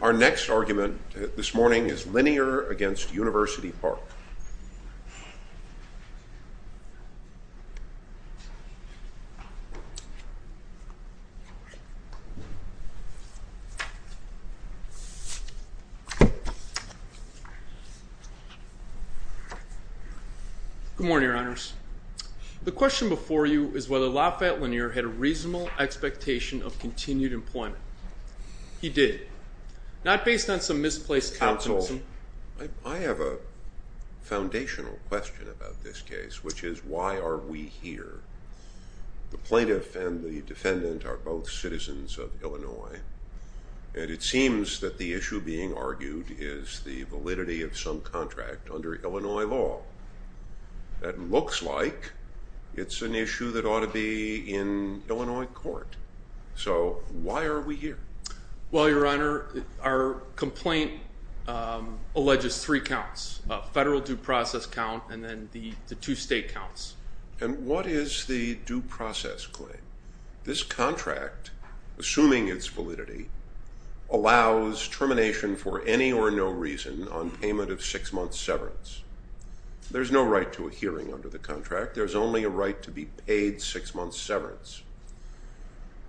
Our next argument this morning is Linear v. University Park. Good morning, Your Honors. The question before you is whether Lafayette Linear had a reasonable expectation of continued employment. He did. Not based on some misplaced confidence. Counsel, I have a foundational question about this case, which is why are we here? The plaintiff and the defendant are both citizens of Illinois, and it seems that the issue being argued is the validity of some contract under Illinois law. That looks like it's an issue that ought to be in Illinois court. So, why are we here? Well, Your Honor, our complaint alleges three counts. A federal due process count and then the two state counts. And what is the due process claim? This contract, assuming its validity, allows termination for any or no reason on payment of six-month severance. There's no right to a hearing under the contract. There's only a right to be paid six-month severance.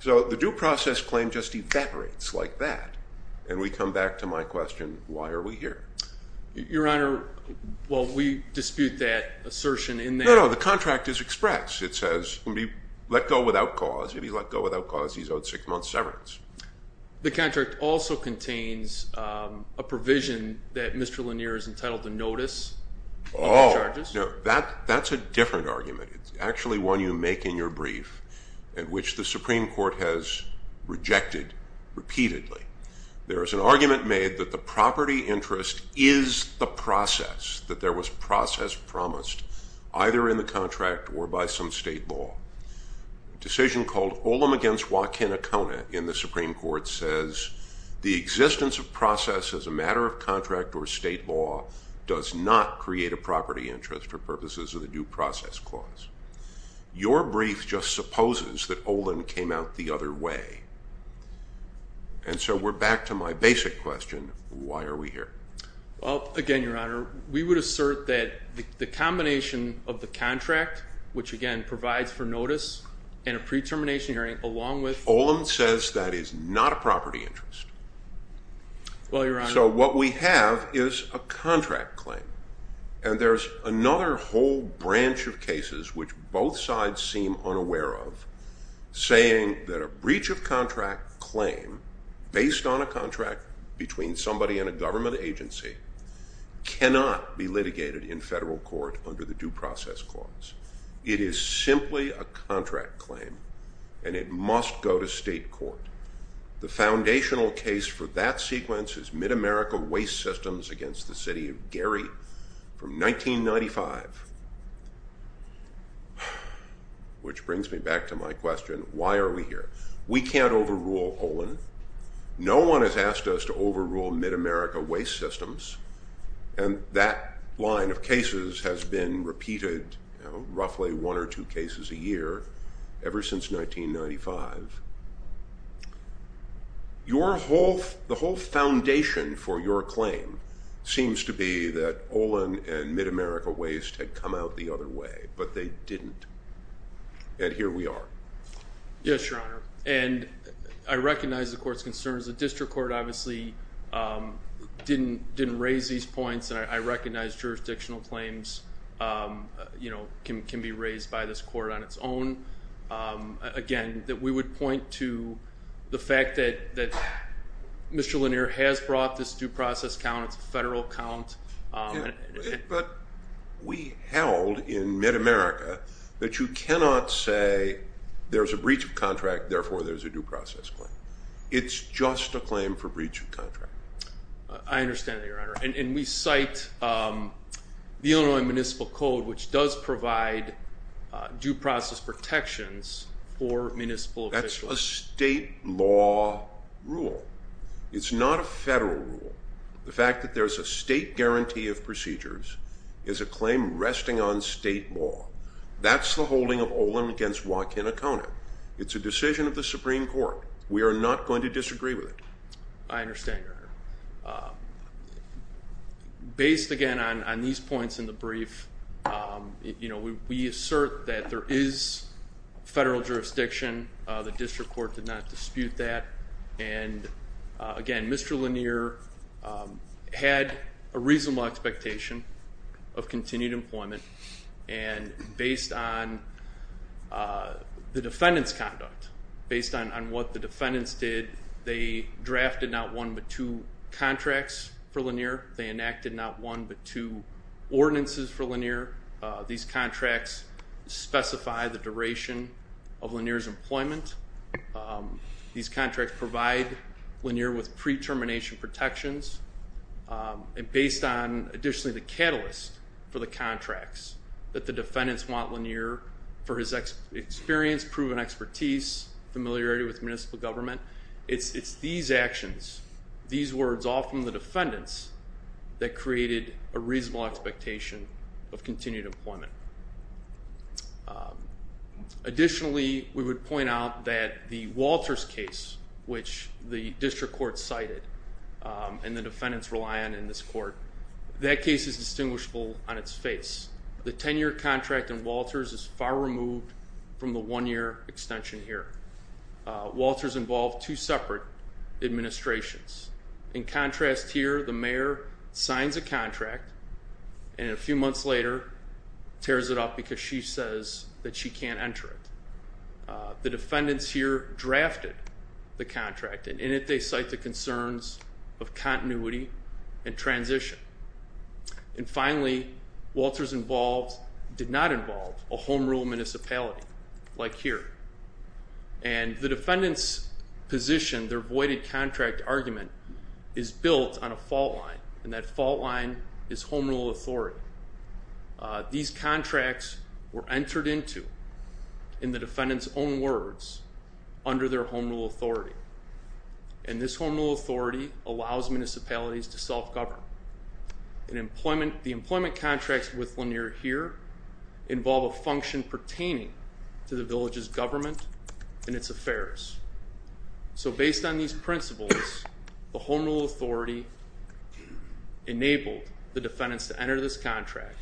So, the due process claim just evaporates like that. And we come back to my question, why are we here? Your Honor, well, we dispute that assertion in that... No, no, the contract is express. It says, let go without cause. If he let go without cause, he's owed six-month severance. The contract also contains a provision that Mr. Linear is entitled to notice. Oh, that's a different argument. It's actually one you make in your brief and which the Supreme Court has rejected repeatedly. There is an argument made that the property interest is the process, that there was process promised either in the contract or by some state law. A decision called Olam against Wakinakona in the Supreme Court says the existence of process as a matter of contract or state law does not create a property interest for purposes of the due process clause. Your brief just supposes that Olam came out the other way. And so we're back to my basic question, why are we here? Well, again, Your Honor, we would assert that the combination of the contract, which again provides for notice and a pre-termination hearing along with... Olam says that is not a property interest. Well, Your Honor... So what we have is a contract claim. And there's another whole branch of cases which both sides seem unaware of, saying that a breach of contract claim based on a contract between somebody and a government agency cannot be litigated in federal court under the due process clause. It is simply a contract claim, and it must go to state court. The foundational case for that sequence is Mid-America Waste Systems against the city of Gary from 1995. Which brings me back to my question, why are we here? We can't overrule Olam. No one has asked us to overrule Mid-America Waste Systems, and that line of cases has been repeated roughly one or two cases a year ever since 1995. The whole foundation for your claim seems to be that Olam and Mid-America Waste had come out the other way, but they didn't, and here we are. Yes, Your Honor, and I recognize the court's concerns. The district court obviously didn't raise these points, and I recognize jurisdictional claims can be raised by this court on its own. Again, we would point to the fact that Mr. Lanier has brought this due process count. It's a federal count. But we held in Mid-America that you cannot say there's a breach of contract, therefore there's a due process claim. It's just a claim for breach of contract. I understand that, Your Honor. And we cite the Illinois Municipal Code, which does provide due process protections for municipal officials. That's a state law rule. It's not a federal rule. The fact that there's a state guarantee of procedures is a claim resting on state law. That's the holding of Olam against Joaquin Acona. It's a decision of the Supreme Court. I understand, Your Honor. Based, again, on these points in the brief, we assert that there is federal jurisdiction. The district court did not dispute that. And, again, Mr. Lanier had a reasonable expectation of continued employment, and based on the defendant's conduct, based on what the defendants did, they drafted not one but two contracts for Lanier. They enacted not one but two ordinances for Lanier. These contracts specify the duration of Lanier's employment. These contracts provide Lanier with pre-termination protections. And based on, additionally, the catalyst for the contracts that the defendants want Lanier for his experience, proven expertise, familiarity with municipal government, it's these actions, these words all from the defendants that created a reasonable expectation of continued employment. Additionally, we would point out that the Walters case, which the district court cited and the defendants rely on in this court, that case is distinguishable on its face. The 10-year contract in Walters is far removed from the one-year extension here. Walters involved two separate administrations. In contrast here, the mayor signs a contract and a few months later tears it up because she says that she can't enter it. The defendants here drafted the contract, and in it they cite the concerns of continuity and transition. And finally, Walters involved did not involve a home rule municipality like here. And the defendants' position, their voided contract argument, is built on a fault line, and that fault line is home rule authority. These contracts were entered into in the defendants' own words under their home rule authority. And this home rule authority allows municipalities to self-govern. The employment contracts with Lanier here involve a function pertaining to the village's government and its affairs. So based on these principles, the home rule authority enabled the defendants to enter this contract,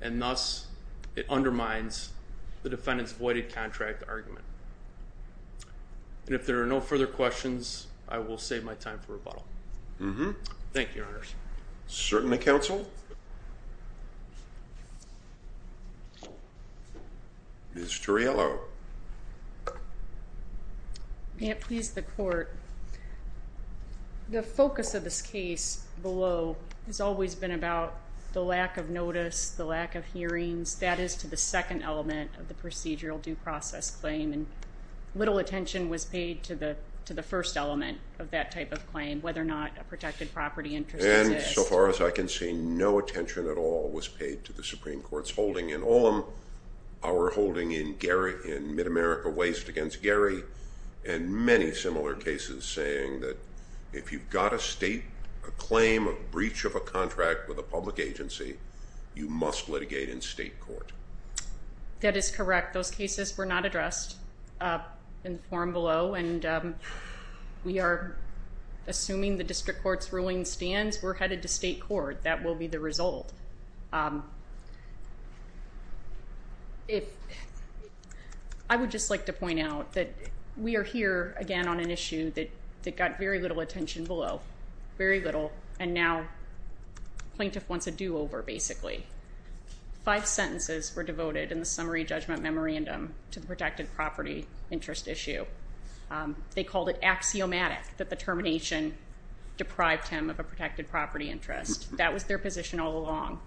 and thus it undermines the defendants' voided contract argument. And if there are no further questions, I will save my time for rebuttal. Thank you, Your Honors. Certainly, Counsel. Ms. Turiello. May it please the Court. The focus of this case below has always been about the lack of notice, the lack of hearings. That is to the second element of the procedural due process claim, and little attention was paid to the first element of that type of claim, whether or not a protected property interest exists. And so far as I can see, no attention at all was paid to the Supreme Court's holding in Olam, our holding in Mid-America Waste against Gary, and many similar cases saying that if you've got a state claim of breach of a contract with a public agency, you must litigate in state court. That is correct. Those cases were not addressed in the forum below, and we are assuming the district court's ruling stands. We're headed to state court. That will be the result. I would just like to point out that we are here, again, on an issue that got very little attention below, very little, and now plaintiff wants a do-over, basically. Five sentences were devoted in the summary judgment memorandum to the protected property interest issue. They called it axiomatic that the termination deprived him of a protected property interest. That was their position all along.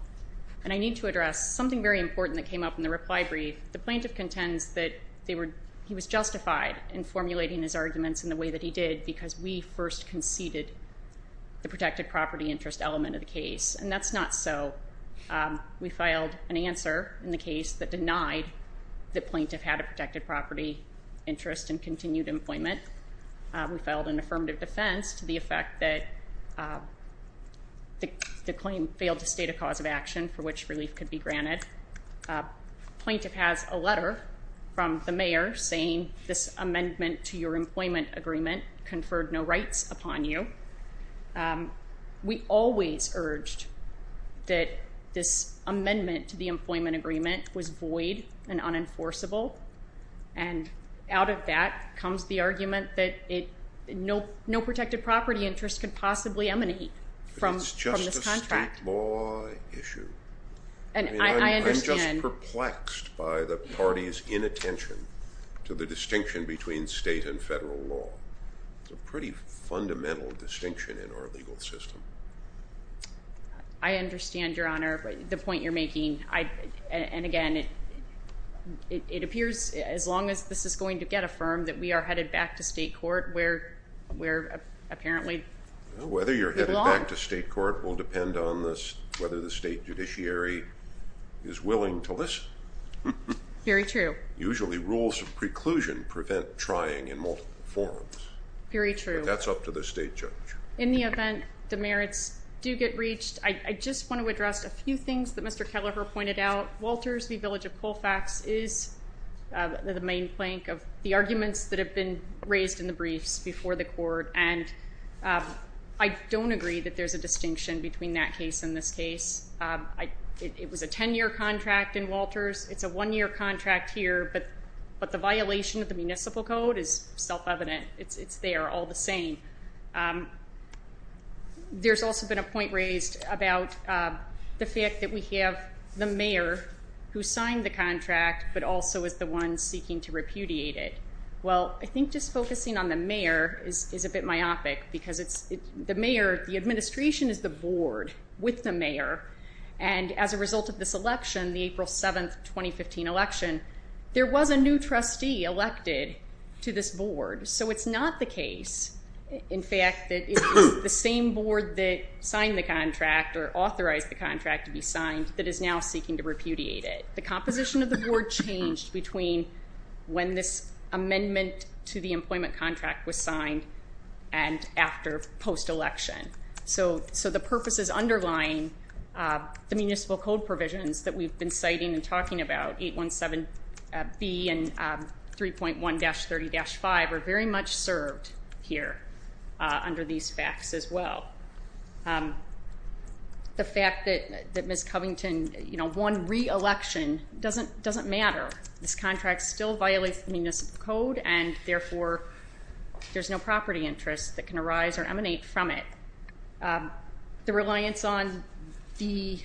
And I need to address something very important that came up in the reply brief. The plaintiff contends that he was justified in formulating his arguments in the way that he did because we first conceded the protected property interest element of the case, and that's not so. We filed an answer in the case that denied the plaintiff had a protected property interest and continued employment. We filed an affirmative defense to the effect that the claim failed to state a cause of action for which relief could be granted. Plaintiff has a letter from the mayor saying this amendment to your employment agreement conferred no rights upon you. We always urged that this amendment to the employment agreement was void and unenforceable, and out of that comes the argument that no protected property interest could possibly emanate from this contract. But it's just a state law issue. I'm just perplexed by the party's inattention to the distinction between state and federal law. It's a pretty fundamental distinction in our legal system. I understand, Your Honor, the point you're making. And, again, it appears as long as this is going to get affirmed that we are headed back to state court where we're apparently belong. Whether you're headed back to state court will depend on whether the state judiciary is willing to listen. Very true. Usually rules of preclusion prevent trying in multiple forms. Very true. That's up to the state judge. In the event the merits do get reached, I just want to address a few things that Mr. Kelleher pointed out. Walters v. Village of Colfax is the main plank of the arguments that have been raised in the briefs before the court, and I don't agree that there's a distinction between that case and this case. It was a 10-year contract in Walters. It's a one-year contract here, but the violation of the municipal code is self-evident. It's there all the same. There's also been a point raised about the fact that we have the mayor who signed the contract but also is the one seeking to repudiate it. Well, I think just focusing on the mayor is a bit myopic because the mayor, the administration is the board with the mayor, and as a result of this election, the April 7, 2015 election, there was a new trustee elected to this board. So it's not the case, in fact, that it was the same board that signed the contract or authorized the contract to be signed that is now seeking to repudiate it. The composition of the board changed between when this amendment to the employment contract was signed and after post-election. So the purposes underlying the municipal code provisions that we've been citing and talking about, 817B and 3.1-30-5, are very much served here under these facts as well. The fact that Ms. Covington won re-election doesn't matter. This contract still violates the municipal code and, therefore, there's no property interest that can arise or emanate from it. The reliance on the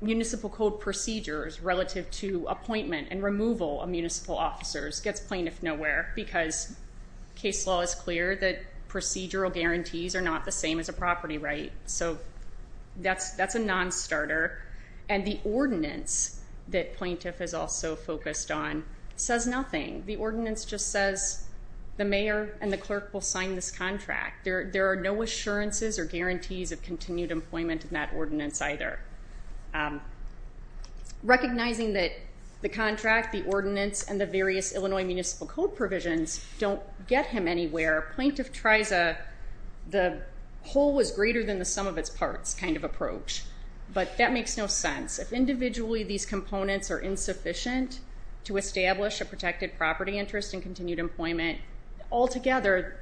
municipal code procedures relative to appointment and removal of municipal officers gets plain if nowhere because case law is clear that procedural guarantees are not the same as a property right. So that's a non-starter. And the ordinance that plaintiff has also focused on says nothing. The ordinance just says the mayor and the clerk will sign this contract. There are no assurances or guarantees of continued employment in that ordinance either. Recognizing that the contract, the ordinance, and the various Illinois municipal code provisions don't get him anywhere, plaintiff tries a whole is greater than the sum of its parts kind of approach. But that makes no sense. If individually these components are insufficient to establish a protected property interest and continued employment, altogether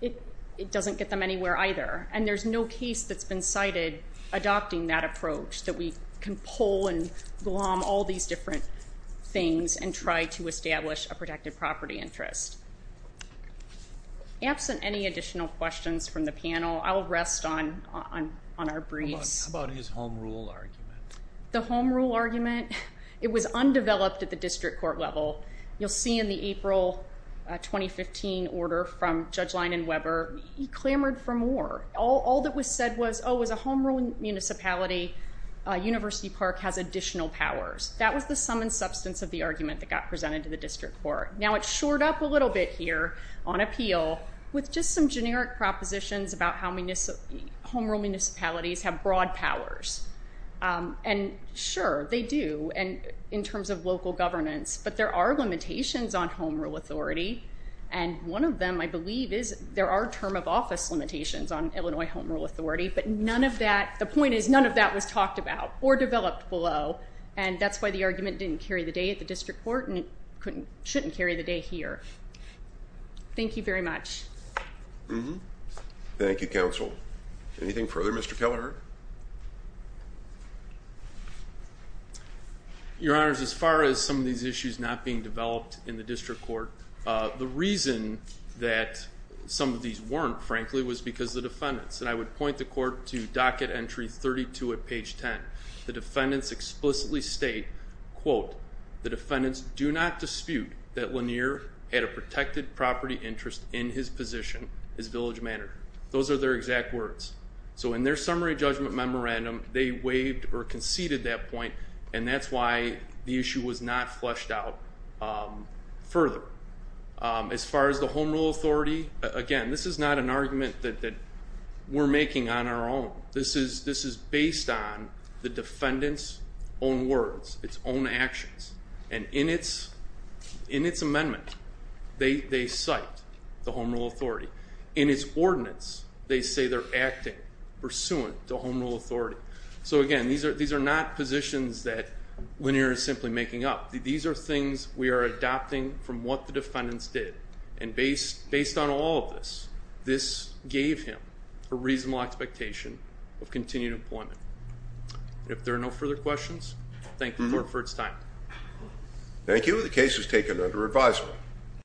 it doesn't get them anywhere either. And there's no case that's been cited adopting that approach that we can pull and glom all these different things and try to establish a protected property interest. Absent any additional questions from the panel, I'll rest on our briefs. How about his home rule argument? The home rule argument? It was undeveloped at the district court level. You'll see in the April 2015 order from Judge Leinenweber, he clamored for more. All that was said was, oh, as a home rule municipality, University Park has additional powers. That was the sum and substance of the argument that got presented to the district court. Now it's shored up a little bit here on appeal with just some generic propositions about how home rule municipalities have broad powers. And sure, they do in terms of local governance. But there are limitations on home rule authority. And one of them, I believe, is there are term of office limitations on Illinois home rule authority. But none of that, the point is none of that was talked about or developed below. And that's why the argument didn't carry the day at the district court and shouldn't carry the day here. Thank you very much. Thank you, counsel. Anything further, Mr. Kelleher? Your Honors, as far as some of these issues not being developed in the district court, the reason that some of these weren't, frankly, was because of the defendants. And I would point the court to docket entry 32 at page 10. The defendants explicitly state, quote, the defendants do not dispute that Lanier had a protected property interest in his position, his village manor. Those are their exact words. So in their summary judgment memorandum, they waived or conceded that point, and that's why the issue was not fleshed out further. As far as the home rule authority, again, this is not an argument that we're making on our own. This is based on the defendant's own words, its own actions. And in its amendment, they cite the home rule authority. In its ordinance, they say they're acting pursuant to home rule authority. So, again, these are not positions that Lanier is simply making up. These are things we are adopting from what the defendants did. And based on all of this, this gave him a reasonable expectation of continued employment. If there are no further questions, thank the court for its time. Thank you. The case is taken under advisement.